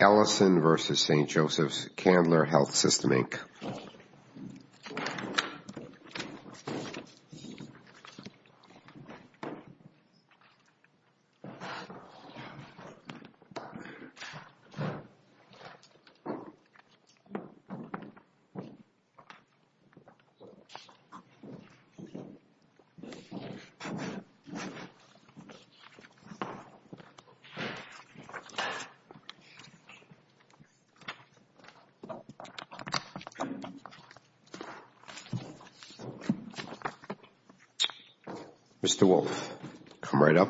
Ellison v. St. Joseph's, Candler Health System, Inc. Mr. Wolfe, come right up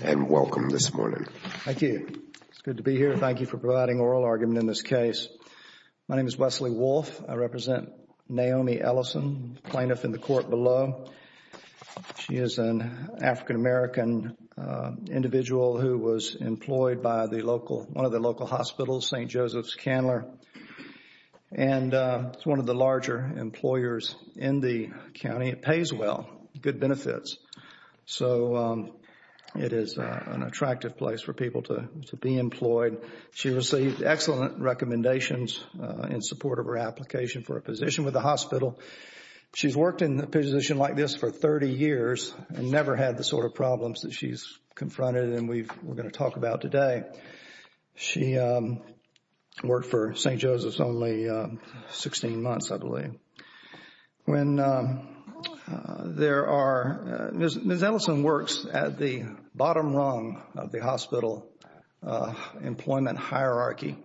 and welcome this morning. Thank you. It's good to be here. Thank you for providing oral argument in this case. My name is Wesley Wolfe. I represent Naomi Ellison, plaintiff in the court below. She is an African American individual who was employed by one of the local hospitals, St. Joseph's Candler. And it's one of the larger employers in the county. It pays well, good benefits. So it is an attractive place for people to be employed. She received excellent recommendations in support of her application for a position with the hospital. She's worked in a position like this for 30 years and never had the sort of problems that she's confronted and we're going to talk about today. She worked for St. Joseph's only 16 months, I believe. Ms. Ellison works at the bottom rung of the hospital employment hierarchy.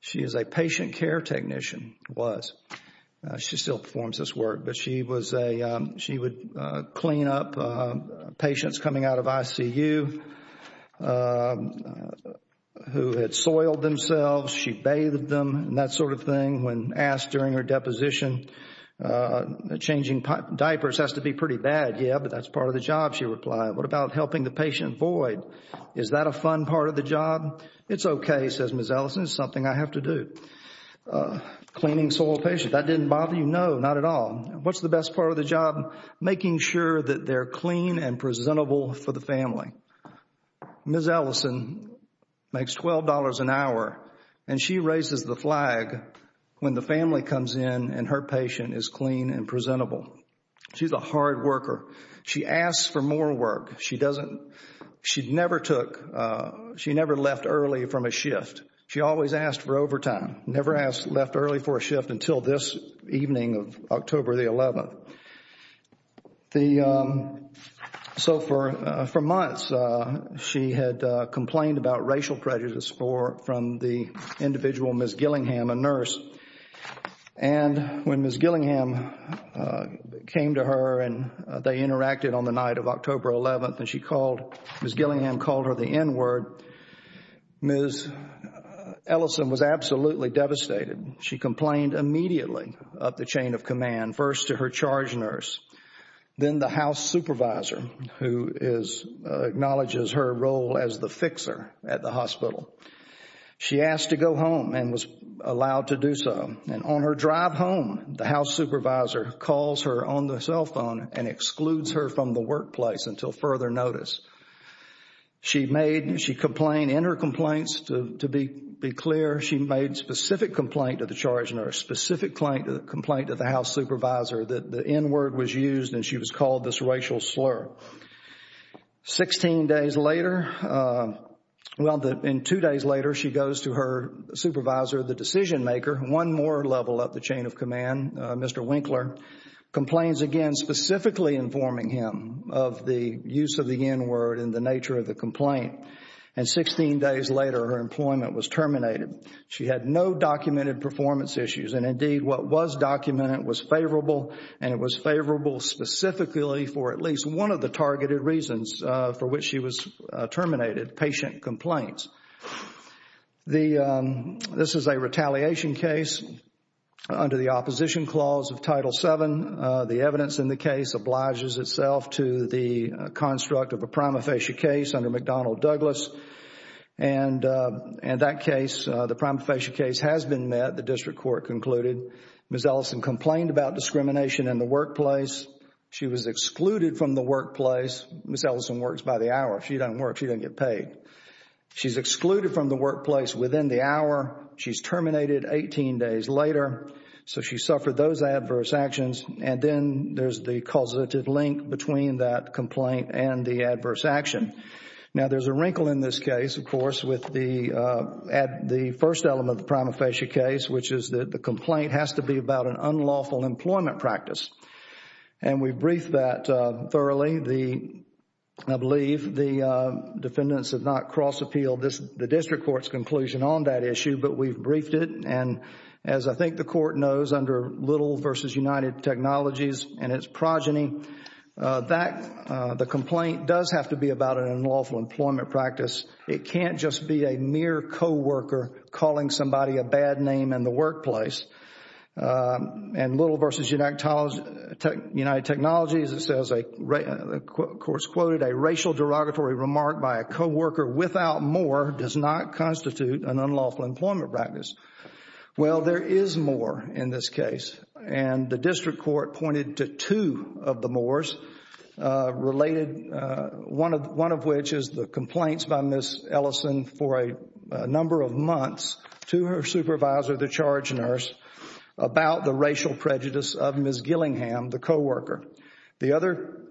She is a patient care technician, was. She still performs this work. But she would clean up patients coming out of ICU who had soiled themselves. She bathed them and that sort of thing. When asked during her deposition, changing diapers has to be pretty bad. Yeah, but that's part of the job, she replied. What about helping the patient void? Is that a fun part of the job? It's okay, says Ms. Ellison. It's something I have to do. Cleaning soiled patients, that didn't bother you? No, not at all. What's the best part of the job? Making sure that they're clean and presentable for the family. Ms. Ellison makes $12 an hour and she raises the flag when the family comes in and her patient is clean and presentable. She's a hard worker. She asks for more work. She never took, she never left early from a shift. She always asked for overtime. Never left early for a shift until this evening of October the 11th. So for months she had complained about racial prejudice from the individual Ms. Gillingham, a nurse. And when Ms. Gillingham came to her and they interacted on the night of October 11th and she called, Ms. Gillingham called her the N-word, Ms. Ellison was absolutely devastated. She complained immediately of the chain of command, first to her charge nurse, then the house supervisor who is, acknowledges her role as the fixer at the hospital. She asked to go home and was allowed to do so. And on her drive home, the house supervisor calls her on the cell phone and excludes her from the workplace until further notice. She made, she complained in her complaints, to be clear, she made specific complaint to the charge nurse, specific complaint to the house supervisor that the N-word was used and she was called this racial slur. Sixteen days later, well in two days later she goes to her supervisor, the decision maker, one more level up the chain of command, Mr. Winkler, complains again specifically informing him of the use of the N-word and the nature of the complaint. And 16 days later her employment was terminated. She had no documented performance issues and indeed what was documented was favorable and it was favorable specifically for at least one of the targeted reasons for which she was terminated, patient complaints. This is a retaliation case under the opposition clause of Title VII. The evidence in the case obliges itself to the construct of a prima facie case under McDonnell Douglas. And that case, the prima facie case has been met, the district court concluded. Ms. Ellison complained about discrimination in the workplace. She was excluded from the workplace. Ms. Ellison works by the hour. If she doesn't work, she doesn't get paid. She's excluded from the workplace within the hour. She's terminated 18 days later. So she suffered those adverse actions and then there's the causative link between that complaint and the adverse action. Now there's a wrinkle in this case, of course, with the first element of the prima facie case, which is that the complaint has to be about an unlawful employment practice. And we briefed that thoroughly. I believe the defendants have not cross appealed the district court's conclusion on that issue, but we've briefed it. And as I think the court knows under Little v. United Technologies and its progeny, the complaint does have to be about an unlawful employment practice. It can't just be a mere co-worker calling somebody a bad name in the workplace. And Little v. United Technologies, it says, of course quoted, a racial derogatory remark by a co-worker without more does not constitute an unlawful employment practice. Well, there is more in this case. And the district court pointed to two of the mores related, one of which is the complaints by Ms. Ellison for a number of months to her supervisor, the charge nurse, about the racial prejudice of Ms. Gillingham, the co-worker. The other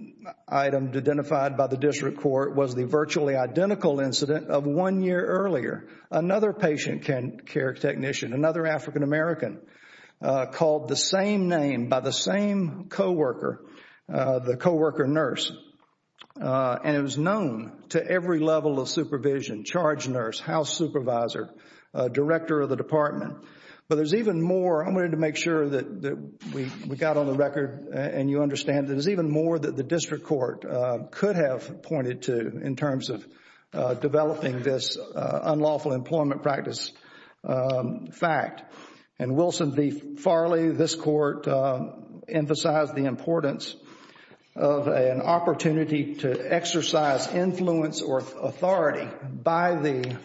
item identified by the district court was the virtually identical incident of one year earlier. Another patient care technician, another African-American, called the same name by the same co-worker, the co-worker nurse. And it was known to every level of supervision, charge nurse, house supervisor, director of the department. But there's even more. I wanted to make sure that we got on the record and you understand. And there's even more that the district court could have pointed to in terms of developing this unlawful employment practice fact. And Wilson v. Farley, this court emphasized the importance of an opportunity to exercise influence or authority by the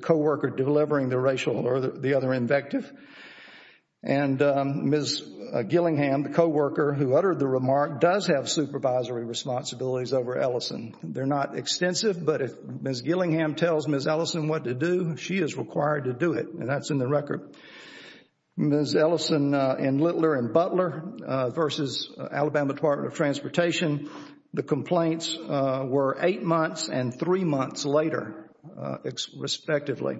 co-worker delivering the racial or the other invective. And Ms. Gillingham, the co-worker who uttered the remark, does have supervisory responsibilities over Ellison. They're not extensive, but if Ms. Gillingham tells Ms. Ellison what to do, she is required to do it. And that's in the record. Ms. Ellison and Littler and Butler v. Alabama Department of Transportation, the complaints were eight months and three months later, respectively.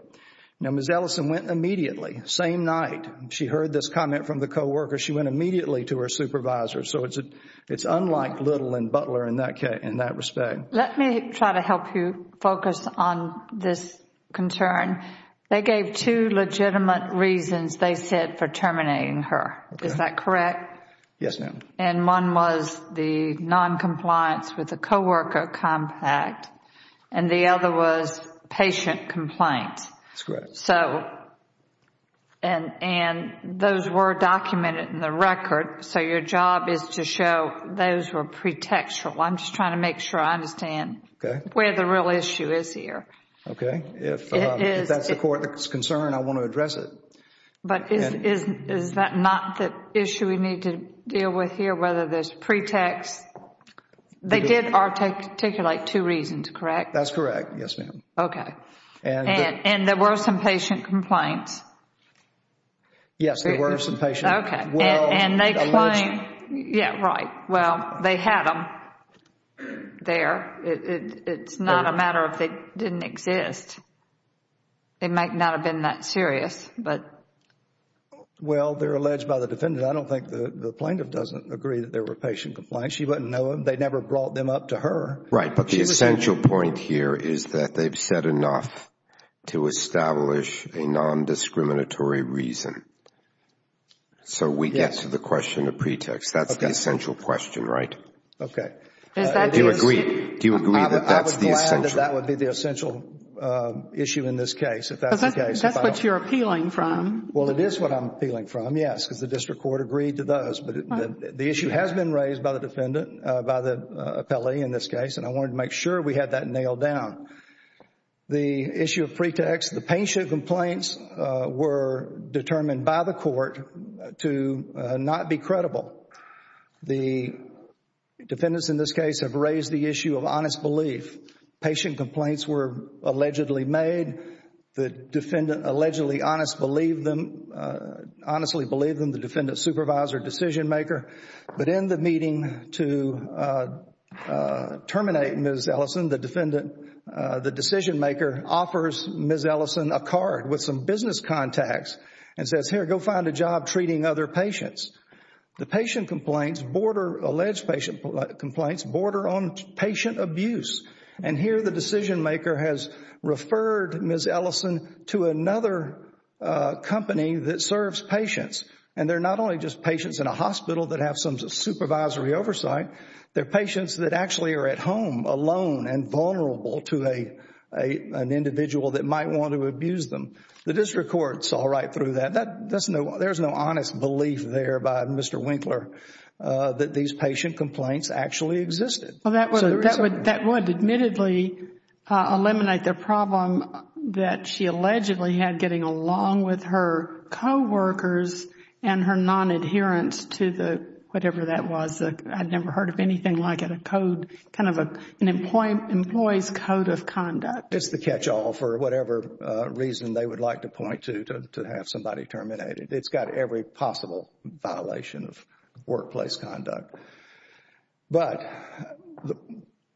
Now, Ms. Ellison went immediately, same night. She heard this comment from the co-worker. She went immediately to her supervisor. So it's unlike Little and Butler in that respect. Let me try to help you focus on this concern. They gave two legitimate reasons, they said, for terminating her. Is that correct? Yes, ma'am. And one was the noncompliance with the co-worker compact. And the other was patient complaint. That's correct. And those were documented in the record. So your job is to show those were pretextual. I'm just trying to make sure I understand where the real issue is here. Okay. If that's the court's concern, I want to address it. But is that not the issue we need to deal with here, whether there's pretext? They did articulate two reasons, correct? That's correct. Yes, ma'am. Okay. And there were some patient complaints. Yes, there were some patient complaints. Okay. And they claim, yeah, right. Well, they had them there. It's not a matter of they didn't exist. They might not have been that serious. Well, they're alleged by the defendant. I don't think the plaintiff doesn't agree that there were patient complaints. She wouldn't know them. They never brought them up to her. Right. But the essential point here is that they've said enough to establish a nondiscriminatory reason. So we get to the question of pretext. That's the essential question, right? Okay. Do you agree? Do you agree that that's the essential? I would be glad that that would be the essential issue in this case, if that's the case. Because that's what you're appealing from. Well, it is what I'm appealing from, yes, because the district court agreed to those. But the issue has been raised by the defendant, by the appellee in this case, and I wanted to make sure we had that nailed down. The issue of pretext, the patient complaints were determined by the court to not be credible. The defendants in this case have raised the issue of honest belief. Patient complaints were allegedly made. The defendant allegedly honestly believed them, the defendant's supervisor, decision maker. But in the meeting to terminate Ms. Ellison, the decision maker offers Ms. Ellison a card with some business contacts and says, here, go find a job treating other patients. The patient complaints border, alleged patient complaints border on patient abuse. And here the decision maker has referred Ms. Ellison to another company that serves patients. And they're not only just patients in a hospital that have some supervisory oversight, they're patients that actually are at home alone and vulnerable to an individual that might want to abuse them. The district court saw right through that. There's no honest belief there by Mr. Winkler that these patient complaints actually existed. That would admittedly eliminate the problem that she allegedly had getting along with her coworkers and her non-adherence to the whatever that was, I'd never heard of anything like it, a code, kind of an employee's code of conduct. It's the catch-all for whatever reason they would like to point to, to have somebody terminated. It's got every possible violation of workplace conduct. But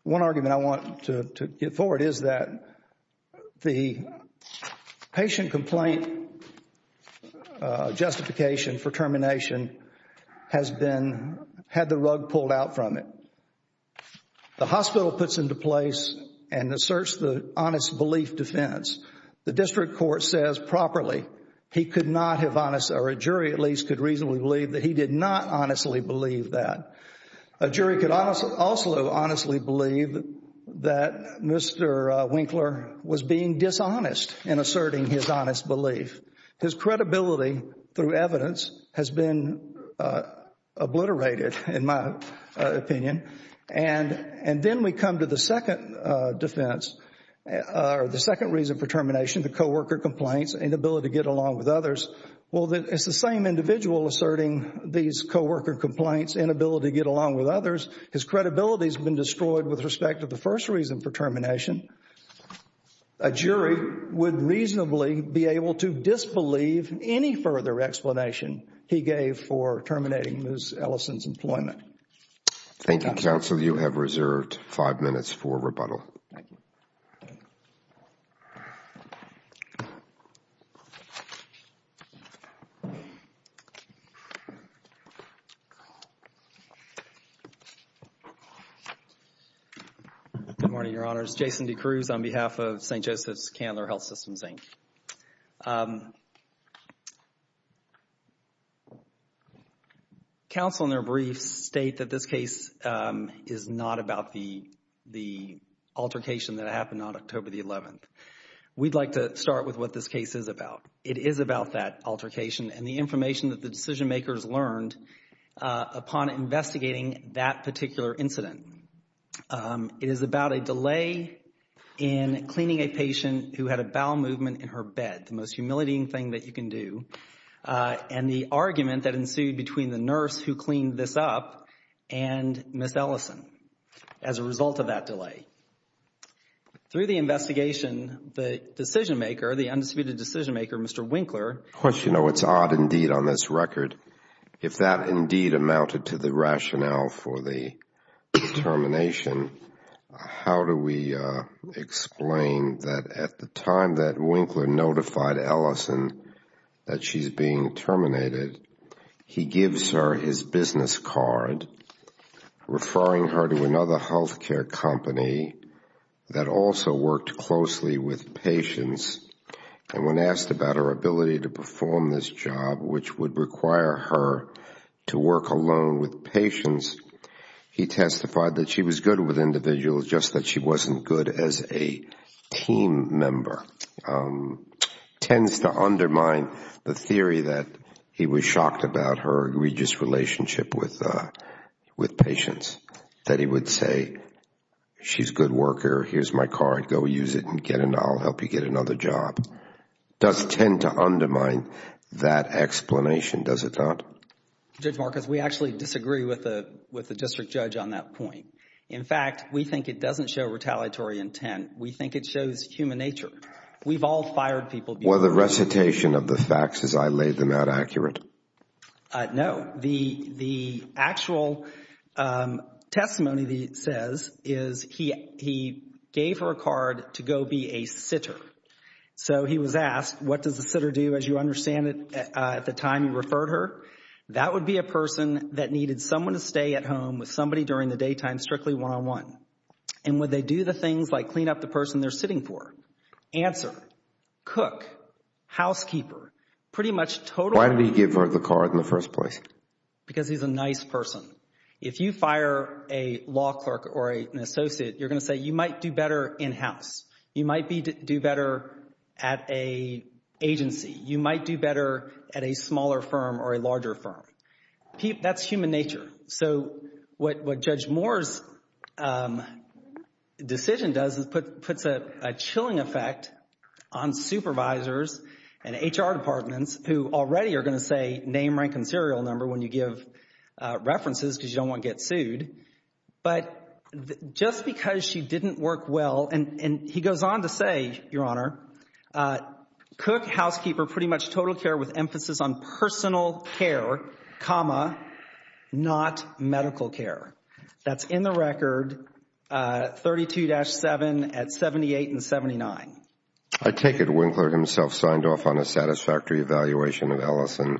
one argument I want to get forward is that the patient complaint justification for termination has been, had the rug pulled out from it. The hospital puts into place and asserts the honest belief defense. The district court says properly he could not have honest, or a jury at least, could reasonably believe that he did not honestly believe that. A jury could also honestly believe that Mr. Winkler was being dishonest in asserting his honest belief. His credibility through evidence has been obliterated, in my opinion. And then we come to the second defense, or the second reason for termination, the coworker complaints, inability to get along with others. Well, it's the same individual asserting these coworker complaints, inability to get along with others. His credibility has been destroyed with respect to the first reason for termination. A jury would reasonably be able to disbelieve any further explanation he gave for terminating Ms. Ellison's employment. Thank you, counsel. You have reserved five minutes for rebuttal. Thank you. Good morning, Your Honors. Jason DeCruz on behalf of St. Joseph's Candler Health Systems, Inc. Counsel in their briefs state that this case is not about the altercation that happened on October the 11th. We'd like to start with what this case is about. It is about that altercation and the information that the decision makers learned upon investigating that particular incident. It is about a delay in cleaning a patient who had a bowel movement in her bed, the most humiliating thing that you can do, and the argument that ensued between the nurse who cleaned this up and Ms. Ellison as a result of that delay. Through the investigation, the decision maker, the undisputed decision maker, Mr. Winkler. Well, you know, it's odd indeed on this record. If that indeed amounted to the rationale for the termination, how do we explain that at the time that Winkler notified Ellison that she's being terminated, he gives her his business card, referring her to another health care company that also worked closely with patients, and when asked about her ability to perform this job, which would require her to work alone with patients, he testified that she was good with individuals, just that she wasn't good as a team member. It tends to undermine the theory that he was shocked about her egregious relationship with patients, that he would say, she's a good worker, here's my card, go use it, and I'll help you get another job. It does tend to undermine that explanation, does it not? Judge Marcus, we actually disagree with the district judge on that point. In fact, we think it doesn't show retaliatory intent. We think it shows human nature. We've all fired people. Was the recitation of the facts as I laid them out accurate? No. The actual testimony that it says is he gave her a card to go be a sitter. So he was asked, what does the sitter do, as you understand it, at the time you referred her? That would be a person that needed someone to stay at home with somebody during the daytime, strictly one-on-one. And would they do the things like clean up the person they're sitting for? Answer, cook, housekeeper, pretty much totally. Why did he give her the card in the first place? Because he's a nice person. If you fire a law clerk or an associate, you're going to say you might do better in-house. You might do better at an agency. You might do better at a smaller firm or a larger firm. That's human nature. So what Judge Moore's decision does is puts a chilling effect on supervisors and HR departments who already are going to say name, rank, and serial number when you give references because you don't want to get sued. But just because she didn't work well, and he goes on to say, Your Honor, cook, housekeeper, pretty much total care with emphasis on personal care, comma, not medical care. That's in the record 32-7 at 78 and 79. I take it Winkler himself signed off on a satisfactory evaluation of Ellison.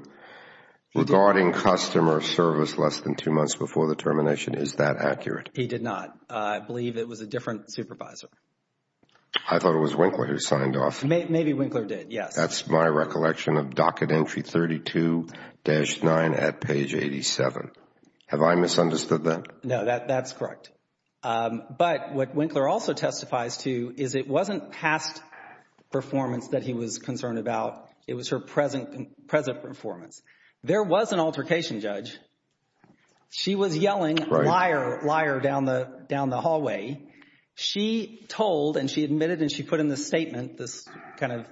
Regarding customer service less than two months before the termination, is that accurate? He did not. I believe it was a different supervisor. I thought it was Winkler who signed off. Maybe Winkler did, yes. That's my recollection of docket entry 32-9 at page 87. Have I misunderstood that? No, that's correct. But what Winkler also testifies to is it wasn't past performance that he was concerned about. It was her present performance. There was an altercation, Judge. She was yelling liar, liar down the hallway. She told and she admitted and she put in this statement, this kind of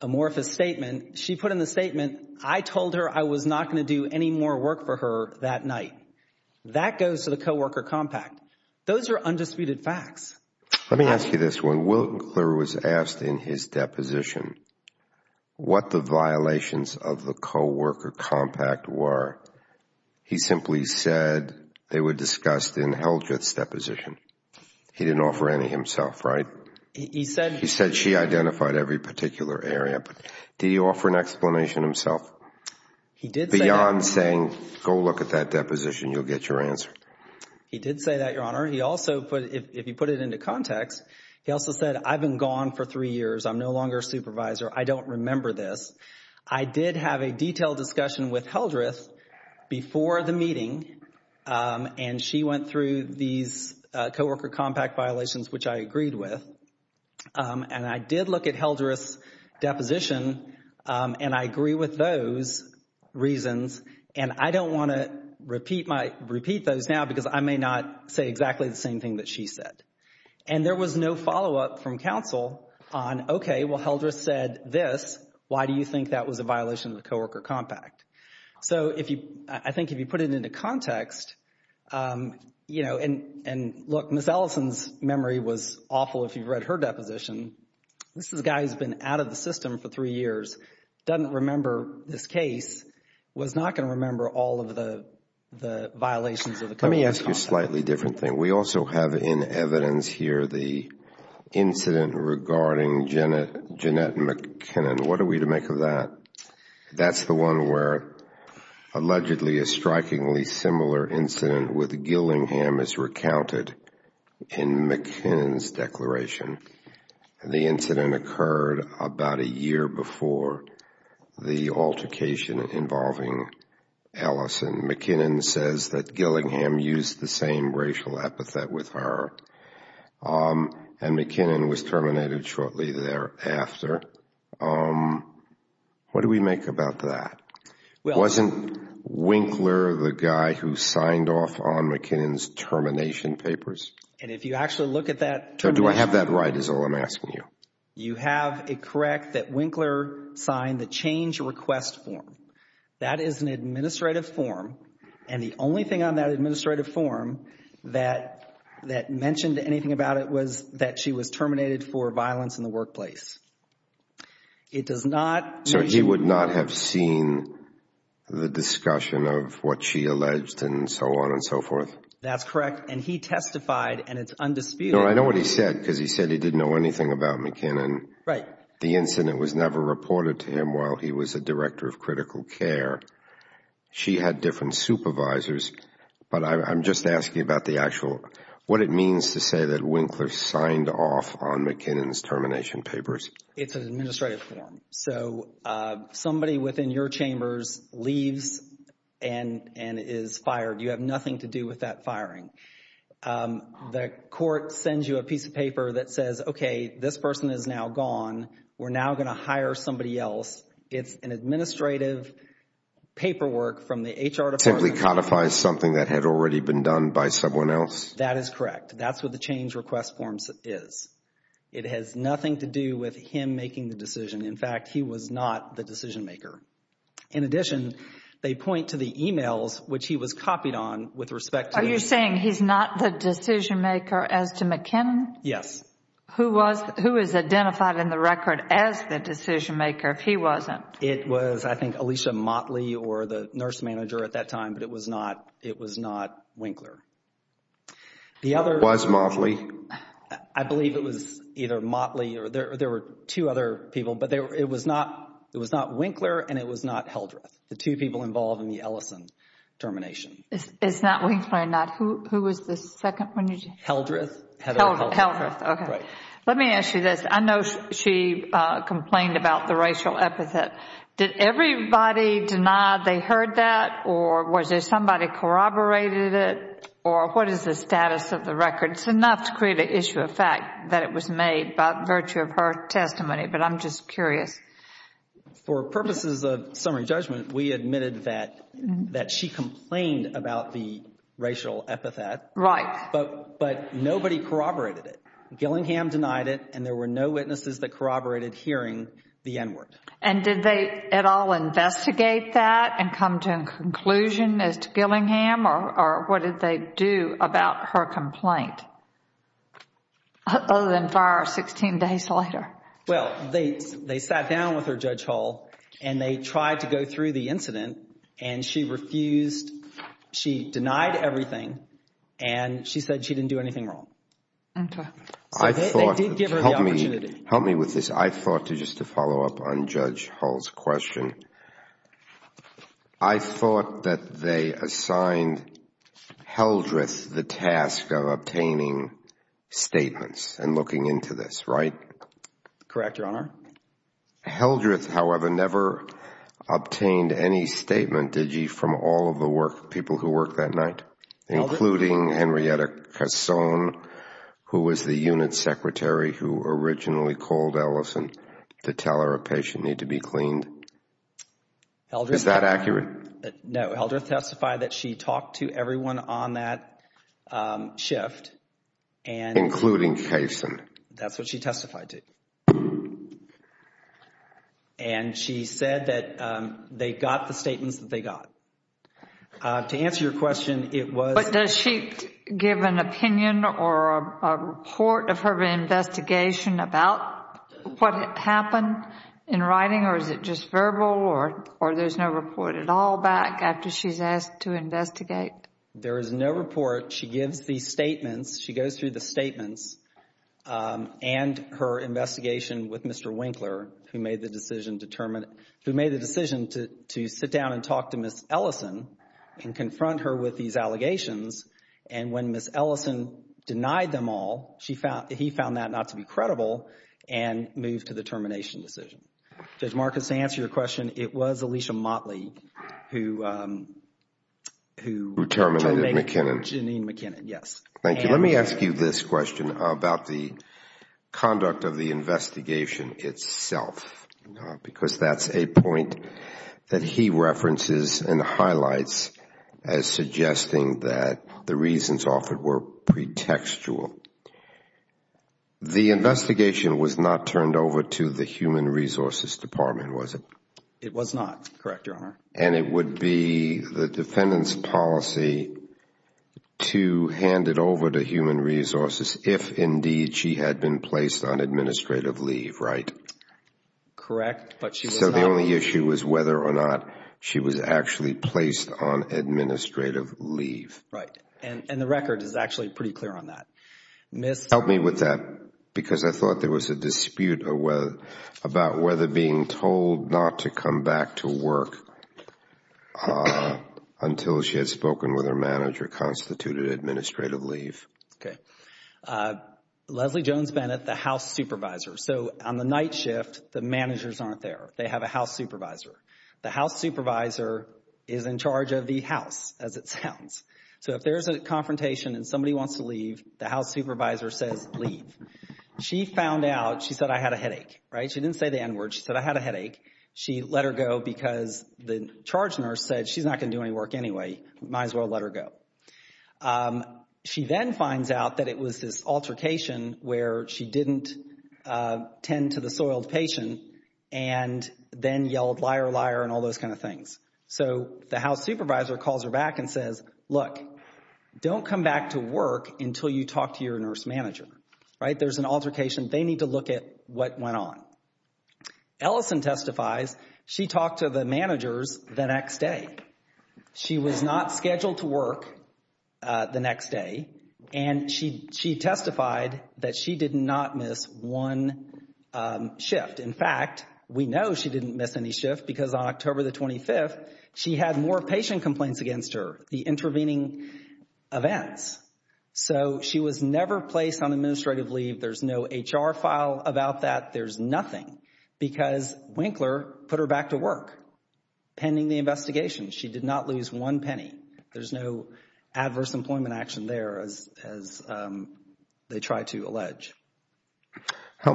amorphous statement. She put in the statement, I told her I was not going to do any more work for her that night. That goes to the coworker compact. Those are undisputed facts. Let me ask you this. When Winkler was asked in his deposition what the violations of the coworker compact were, he simply said they were discussed in Eldritch's deposition. He didn't offer any himself, right? He said she identified every particular area. But did he offer an explanation himself? Beyond saying go look at that deposition, you'll get your answer. He did say that, Your Honor. He also, if you put it into context, he also said I've been gone for three years. I'm no longer a supervisor. I don't remember this. I did have a detailed discussion with Eldritch before the meeting, and she went through these coworker compact violations, which I agreed with. And I did look at Eldritch's deposition, and I agree with those reasons, and I don't want to repeat those now because I may not say exactly the same thing that she said. And there was no follow-up from counsel on, okay, well, Eldritch said this. Why do you think that was a violation of the coworker compact? So I think if you put it into context, you know, and look, Ms. Ellison's memory was awful if you've read her deposition. This is a guy who's been out of the system for three years, doesn't remember this case, was not going to remember all of the violations of the coworker compact. Let me ask you a slightly different thing. We also have in evidence here the incident regarding Jeanette McKinnon. What are we to make of that? That's the one where allegedly a strikingly similar incident with Gillingham is recounted in McKinnon's declaration. The incident occurred about a year before the altercation involving Ellison. McKinnon says that Gillingham used the same racial epithet with her, and McKinnon was terminated shortly thereafter. What do we make about that? Wasn't Winkler the guy who signed off on McKinnon's termination papers? And if you actually look at that termination... Do I have that right is all I'm asking you? You have it correct that Winkler signed the change request form. That is an administrative form, and the only thing on that administrative form that mentioned anything about it was that she was terminated for violence in the workplace. It does not... So he would not have seen the discussion of what she alleged and so on and so forth? That's correct, and he testified, and it's undisputed... No, I know what he said, because he said he didn't know anything about McKinnon. Right. The incident was never reported to him while he was a director of critical care. She had different supervisors, but I'm just asking about the actual... What it means to say that Winkler signed off on McKinnon's termination papers? It's an administrative form, so somebody within your chambers leaves and is fired. You have nothing to do with that firing. The court sends you a piece of paper that says, okay, this person is now gone. We're now going to hire somebody else. It's an administrative paperwork from the HR department. Simply codifies something that had already been done by someone else? That is correct. That's what the change request form is. It has nothing to do with him making the decision. In fact, he was not the decision maker. In addition, they point to the emails, which he was copied on, with respect to... Are you saying he's not the decision maker as to McKinnon? Yes. Who was identified in the record as the decision maker if he wasn't? It was, I think, Alicia Motley or the nurse manager at that time, but it was not Winkler. The other... It was Motley. I believe it was either Motley or there were two other people, but it was not Winkler and it was not Heldreth. The two people involved in the Ellison termination. It's not Winkler or not. Who was the second one? Heldreth. Heather Heldreth. Heldreth, okay. Let me ask you this. I know she complained about the racial epithet. Did everybody deny they heard that, or was there somebody corroborated it, or what is the status of the record? It's enough to create an issue of fact that it was made by virtue of her testimony, but I'm just curious. For purposes of summary judgment, we admitted that she complained about the racial epithet. Right. But nobody corroborated it. Gillingham denied it, and there were no witnesses that corroborated hearing the N-word. And did they at all investigate that and come to a conclusion as to Gillingham, or what did they do about her complaint other than fire her 16 days later? Well, they sat down with her, Judge Hall, and they tried to go through the incident, and she refused. She denied everything, and she said she didn't do anything wrong. Okay. So they did give her the opportunity. Help me with this. I thought, just to follow up on Judge Hall's question, I thought that they assigned Heldreth the task of obtaining statements and looking into this, right? Correct, Your Honor. Heldreth, however, never obtained any statement, did you, from all of the people who worked that night? Including Henrietta Kasson, who was the unit secretary who originally called Ellison to tell her a patient needed to be cleaned? Is that accurate? No. Heldreth testified that she talked to everyone on that shift. Including Kasson. That's what she testified to. And she said that they got the statements that they got. To answer your question, it was But does she give an opinion or a report of her investigation about what happened in writing, or is it just verbal, or there's no report at all back after she's asked to investigate? There is no report. She gives the statements. She goes through the statements and her investigation with Mr. Winkler, who made the decision to sit down and talk to Ms. Ellison and confront her with these allegations. And when Ms. Ellison denied them all, he found that not to be credible and moved to the termination decision. Judge Marcus, to answer your question, it was Alicia Motley who Who terminated McKinnon. Janine McKinnon, yes. Thank you. Let me ask you this question about the conduct of the investigation itself, because that's a point that he references and highlights as suggesting that the reasons offered were pretextual. The investigation was not turned over to the Human Resources Department, was it? It was not, correct, Your Honor. And it would be the defendant's policy to hand it over to Human Resources if, indeed, she had been placed on administrative leave, right? Correct, but she was not. So the only issue was whether or not she was actually placed on administrative leave. Right. And the record is actually pretty clear on that. Help me with that because I thought there was a dispute about whether being told not to come back to work until she had spoken with her manager constituted administrative leave. Okay. Leslie Jones-Bennett, the house supervisor. So on the night shift, the managers aren't there. They have a house supervisor. The house supervisor is in charge of the house, as it sounds. So if there's a confrontation and somebody wants to leave, the house supervisor says, leave. She found out. She said, I had a headache. Right? She didn't say the N word. She said, I had a headache. She let her go because the charge nurse said, she's not going to do any work anyway. Might as well let her go. She then finds out that it was this altercation where she didn't tend to the soiled patient and then yelled, liar, liar, and all those kind of things. So the house supervisor calls her back and says, look, don't come back to work until you talk to your nurse manager. Right? There's an altercation. They need to look at what went on. Ellison testifies. She talked to the managers the next day. She was not scheduled to work the next day, and she testified that she did not miss one shift. In fact, we know she didn't miss any shift because on October the 25th, she had more patient complaints against her, the intervening events. So she was never placed on administrative leave. There's no HR file about that. There's nothing because Winkler put her back to work pending the investigation. She did not lose one penny. Help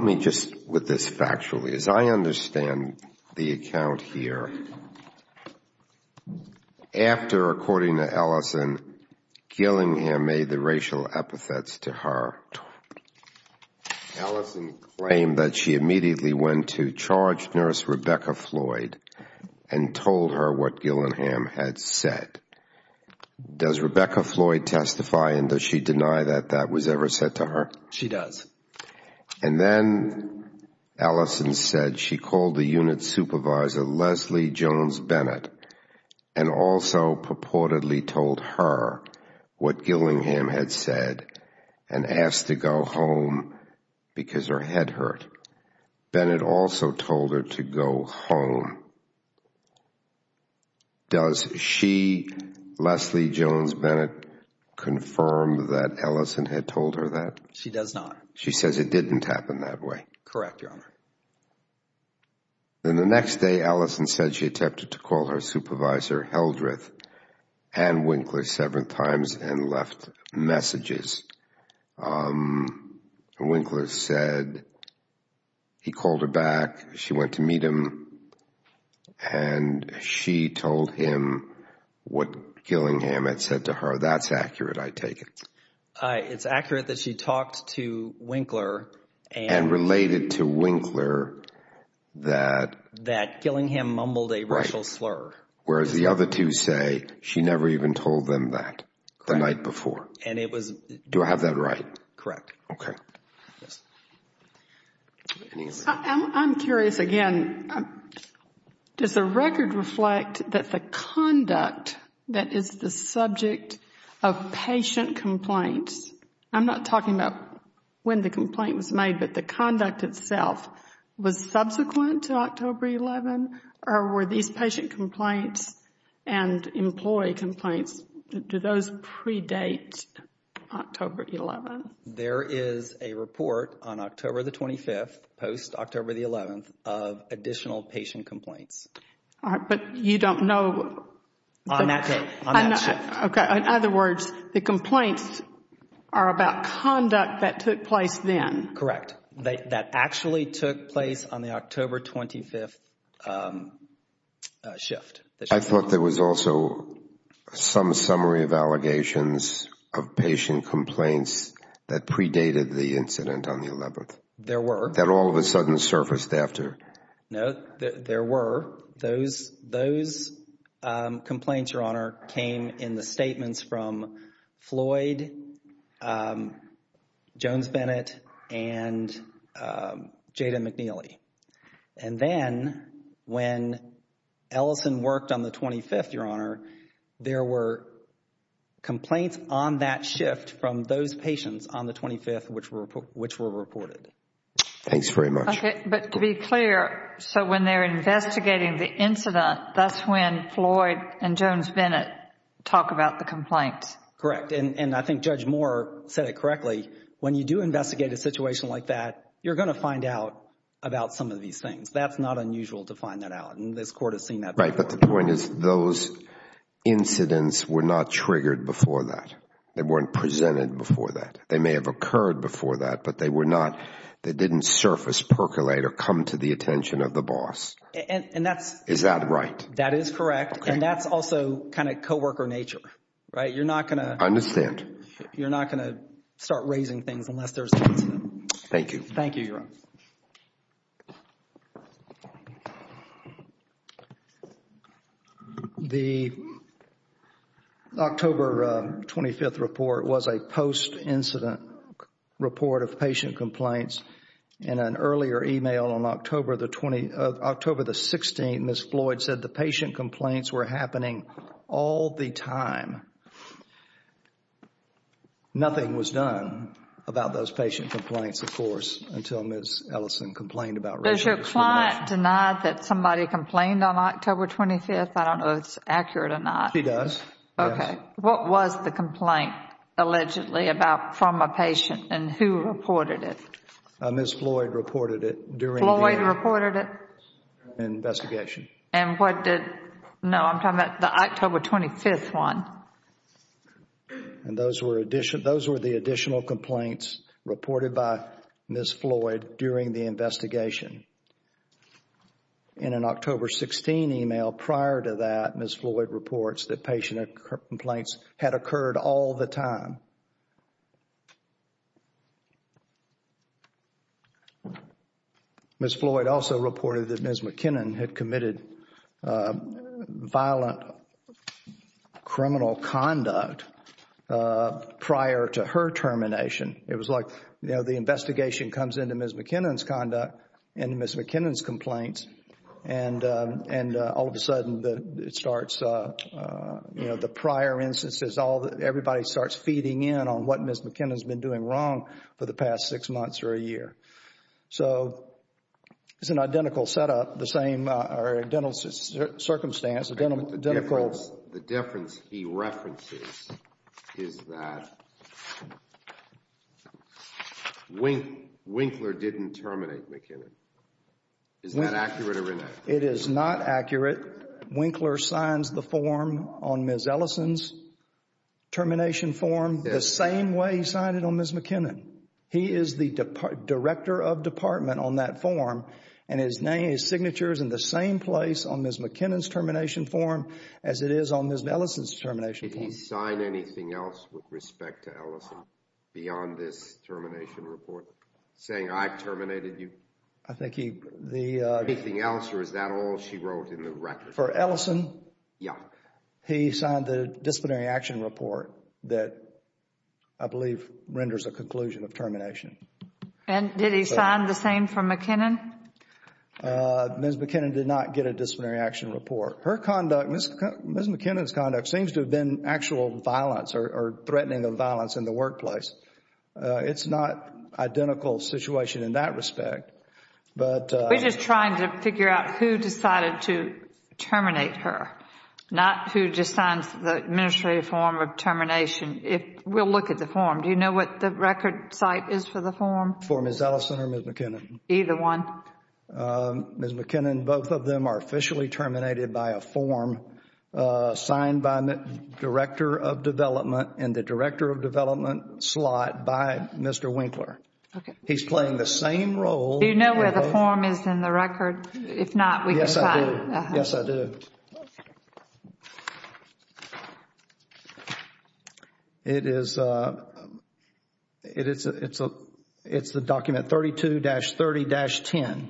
me just with this factually. As I understand the account here, after, according to Ellison, Gillingham made the racial epithets to her, Ellison claimed that she immediately went to charge nurse Rebecca Floyd and told her what Gillingham had said. Does Rebecca Floyd testify, and does she deny that that was ever said to her? She does. And then Ellison said she called the unit supervisor, Leslie Jones Bennett, and also purportedly told her what Gillingham had said and asked to go home because her head hurt. Bennett also told her to go home. Does she, Leslie Jones Bennett, confirm that Ellison had told her that? She does not. She says it didn't happen that way. Correct, Your Honor. Then the next day, Ellison said she attempted to call her supervisor, Heldreth, and Winkler several times and left messages. Winkler said he called her back. She went to meet him, and she told him what Gillingham had said to her. That's accurate, I take it. It's accurate that she talked to Winkler. And related to Winkler that. That Gillingham mumbled a racial slur. Whereas the other two say she never even told them that the night before. Do I have that right? Correct. Okay. I'm curious again. Does the record reflect that the conduct that is the subject of patient complaints, I'm not talking about when the complaint was made, but the conduct itself was subsequent to October 11? Or were these patient complaints and employee complaints, do those predate October 11? There is a report on October the 25th, post-October the 11th, of additional patient complaints. But you don't know. On that shift. Okay. In other words, the complaints are about conduct that took place then. Correct. That actually took place on the October 25th shift. I thought there was also some summary of allegations of patient complaints that predated the incident on the 11th. There were. That all of a sudden surfaced after. No, there were. Those complaints, Your Honor, came in the statements from Floyd, Jones-Bennett, and Jada McNeely. And then when Ellison worked on the 25th, Your Honor, there were complaints on that shift from those patients on the 25th, which were reported. Thanks very much. Okay. But to be clear, so when they're investigating the incident, that's when Floyd and Jones-Bennett talk about the complaints. Correct. And I think Judge Moore said it correctly. When you do investigate a situation like that, you're going to find out about some of these things. That's not unusual to find that out. And this Court has seen that before. Right. But the point is those incidents were not triggered before that. They weren't presented before that. They may have occurred before that, but they were not, they didn't surface, percolate, or come to the attention of the boss. Is that right? That is correct. And that's also kind of co-worker nature. Right? You're not going to. I understand. You're not going to start raising things unless there's an incident. Thank you. Thank you, Your Honor. The October 25th report was a post-incident report of patient complaints. In an earlier email on October the 16th, Ms. Floyd said the patient complaints were happening all the time. Nothing was done about those patient complaints, of course, until Ms. Ellison complained about racial discrimination. Does your client deny that somebody complained on October 25th? I don't know if it's accurate or not. She does. Okay. What was the complaint allegedly about from a patient and who reported it? Ms. Floyd reported it during the investigation. Floyd reported it? And what did, no, I'm talking about the October 25th one. And those were the additional complaints reported by Ms. Floyd during the investigation. In an October 16 email prior to that, Ms. Floyd reports that patient complaints had occurred all the time. Ms. Floyd also reported that Ms. McKinnon had committed violent criminal conduct prior to her termination. It was like, you know, the investigation comes into Ms. McKinnon's conduct and Ms. McKinnon's complaints and all of a sudden it starts, you know, the prior instances, everybody starts feeding in on what Ms. McKinnon's been doing wrong for the past six months or a year. So it's an identical setup, the same, or identical circumstance, identical. The difference he references is that Winkler didn't terminate McKinnon. Is that accurate or inaccurate? It is not accurate. Winkler signs the form on Ms. Ellison's termination form, the same way he signed it on Ms. McKinnon. He is the director of department on that form and his name, his signature is in the same place on Ms. McKinnon's termination form as it is on Ms. Ellison's termination form. Did he sign anything else with respect to Ellison beyond this termination report saying I terminated you? I think he, the, Anything else or is that all she wrote in the record? For Ellison? Yeah. He signed the disciplinary action report that I believe renders a conclusion of termination. And did he sign the same for McKinnon? Ms. McKinnon did not get a disciplinary action report. Her conduct, Ms. McKinnon's conduct seems to have been actual violence or threatening of violence in the workplace. It is not identical situation in that respect. We are just trying to figure out who decided to terminate her, not who just signs the administrative form of termination. We will look at the form. Do you know what the record site is for the form? For Ms. Ellison or Ms. McKinnon? Either one. Ms. McKinnon, both of them are officially terminated by a form signed by the Director of Development and the Director of Development slot by Mr. Winkler. Okay. He's playing the same role. Do you know where the form is in the record? If not, we can sign. Yes, I do. Yes, I do. It is the document 32-30-10.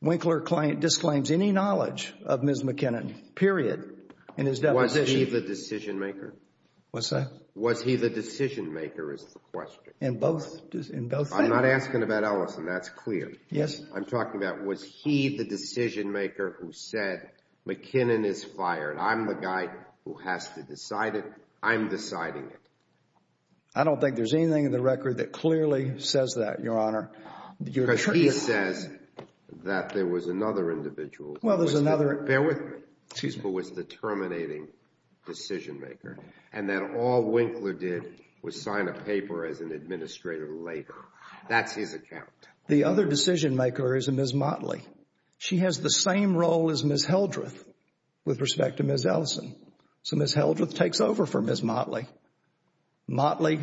Winkler disclaims any knowledge of Ms. McKinnon, period. Was he the decision maker? What's that? Was he the decision maker is the question. In both things. I'm not asking about Ellison. That's clear. Yes. I'm talking about was he the decision maker who said McKinnon is fired. I'm the guy who has to decide it. I'm deciding it. I don't think there's anything in the record that clearly says that, Your Honor. Because he says that there was another individual. Well, there's another. Bear with me. Excuse me. Who was the terminating decision maker and that all Winkler did was sign a paper as an administrator later. That's his account. The other decision maker is Ms. Motley. She has the same role as Ms. Heldreth with respect to Ms. Ellison. So Ms. Heldreth takes over for Ms. Motley. Motley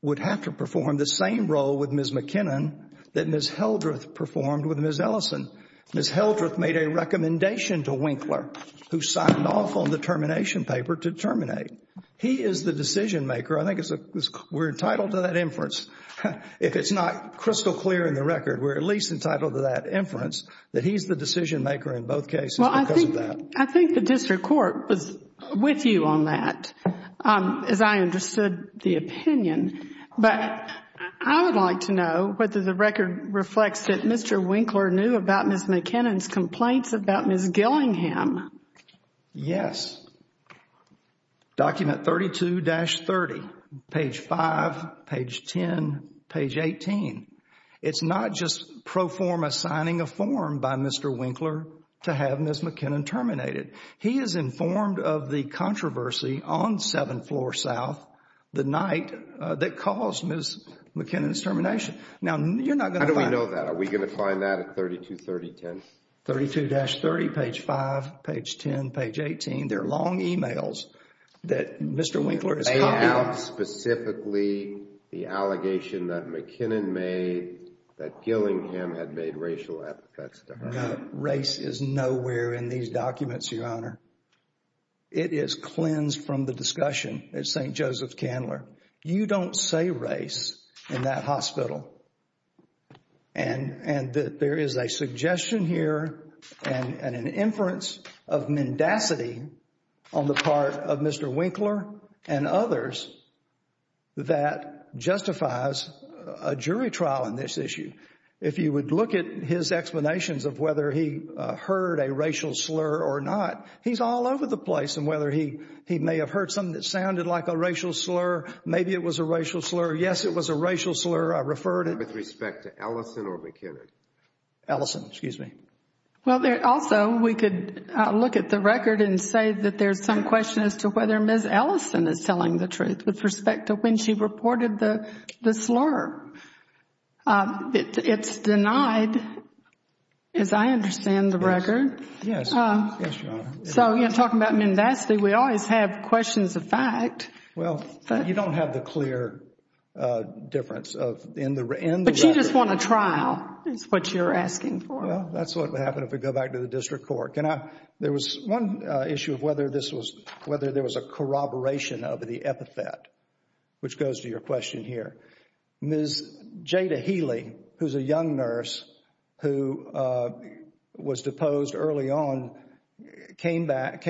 would have to perform the same role with Ms. McKinnon that Ms. Heldreth performed with Ms. Ellison. Ms. Heldreth made a recommendation to Winkler, who signed off on the termination paper, to terminate. He is the decision maker. I think we're entitled to that inference. If it's not crystal clear in the record, we're at least entitled to that inference that he's the decision maker in both cases because of that. I think the district court was with you on that, as I understood the opinion. But I would like to know whether the record reflects that Mr. Winkler knew about Ms. McKinnon's complaints about Ms. Gillingham. Yes. Document 32-30, page 5, page 10, page 18. It's not just pro forma signing a form by Mr. Winkler to have Ms. McKinnon terminated. He is informed of the controversy on 7th Floor South, the night that caused Ms. McKinnon's termination. How do we know that? Are we going to find that at 32-30? 32-30, page 5, page 10, page 18. They're long emails that Mr. Winkler is copying. They have specifically the allegation that McKinnon made that Gillingham had made racial efforts to her. No. Race is nowhere in these documents, Your Honor. It is cleansed from the discussion at St. Joseph's Candler. You don't say race in that hospital. And there is a suggestion here and an inference of mendacity on the part of Mr. Winkler and others that justifies a jury trial on this issue. If you would look at his explanations of whether he heard a racial slur or not, he's all over the place on whether he may have heard something that sounded like a racial slur, maybe it was a racial slur. Yes, it was a racial slur. With respect to Ellison or McKinnon? Ellison, excuse me. Well, also, we could look at the record and say that there's some question as to whether Ms. Ellison is telling the truth with respect to when she reported the slur. It's denied, as I understand the record. Yes, Your Honor. So, you know, talking about mendacity, we always have questions of fact. Well, you don't have the clear difference in the record. But you just want a trial is what you're asking for. Well, that's what would happen if we go back to the district court. There was one issue of whether there was a corroboration of the epithet, which goes to your question here. Ms. Jada Healy, who's a young nurse who was deposed early on, came back,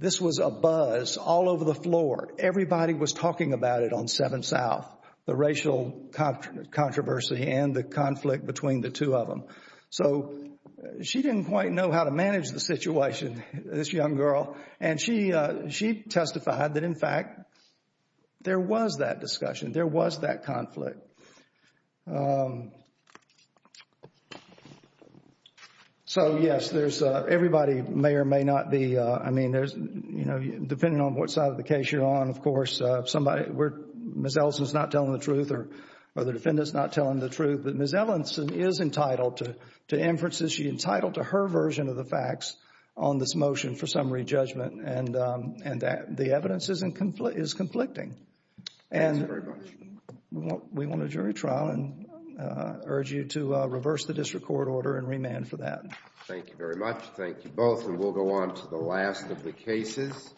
this was a buzz all over the floor. Everybody was talking about it on 7 South, the racial controversy and the conflict between the two of them. So she didn't quite know how to manage the situation, this young girl. And she testified that, in fact, there was that discussion. There was that conflict. So, yes, everybody may or may not be, I mean, there's, you know, depending on what side of the case you're on, of course, Ms. Ellison's not telling the truth or the defendant's not telling the truth. But Ms. Ellison is entitled to inferences. She's entitled to her version of the facts on this motion for summary judgment. And the evidence is conflicting. And we want a jury trial and urge you to reverse the district court order and remand for that. Thank you very much. Thank you both. And we'll go on to the last of the cases.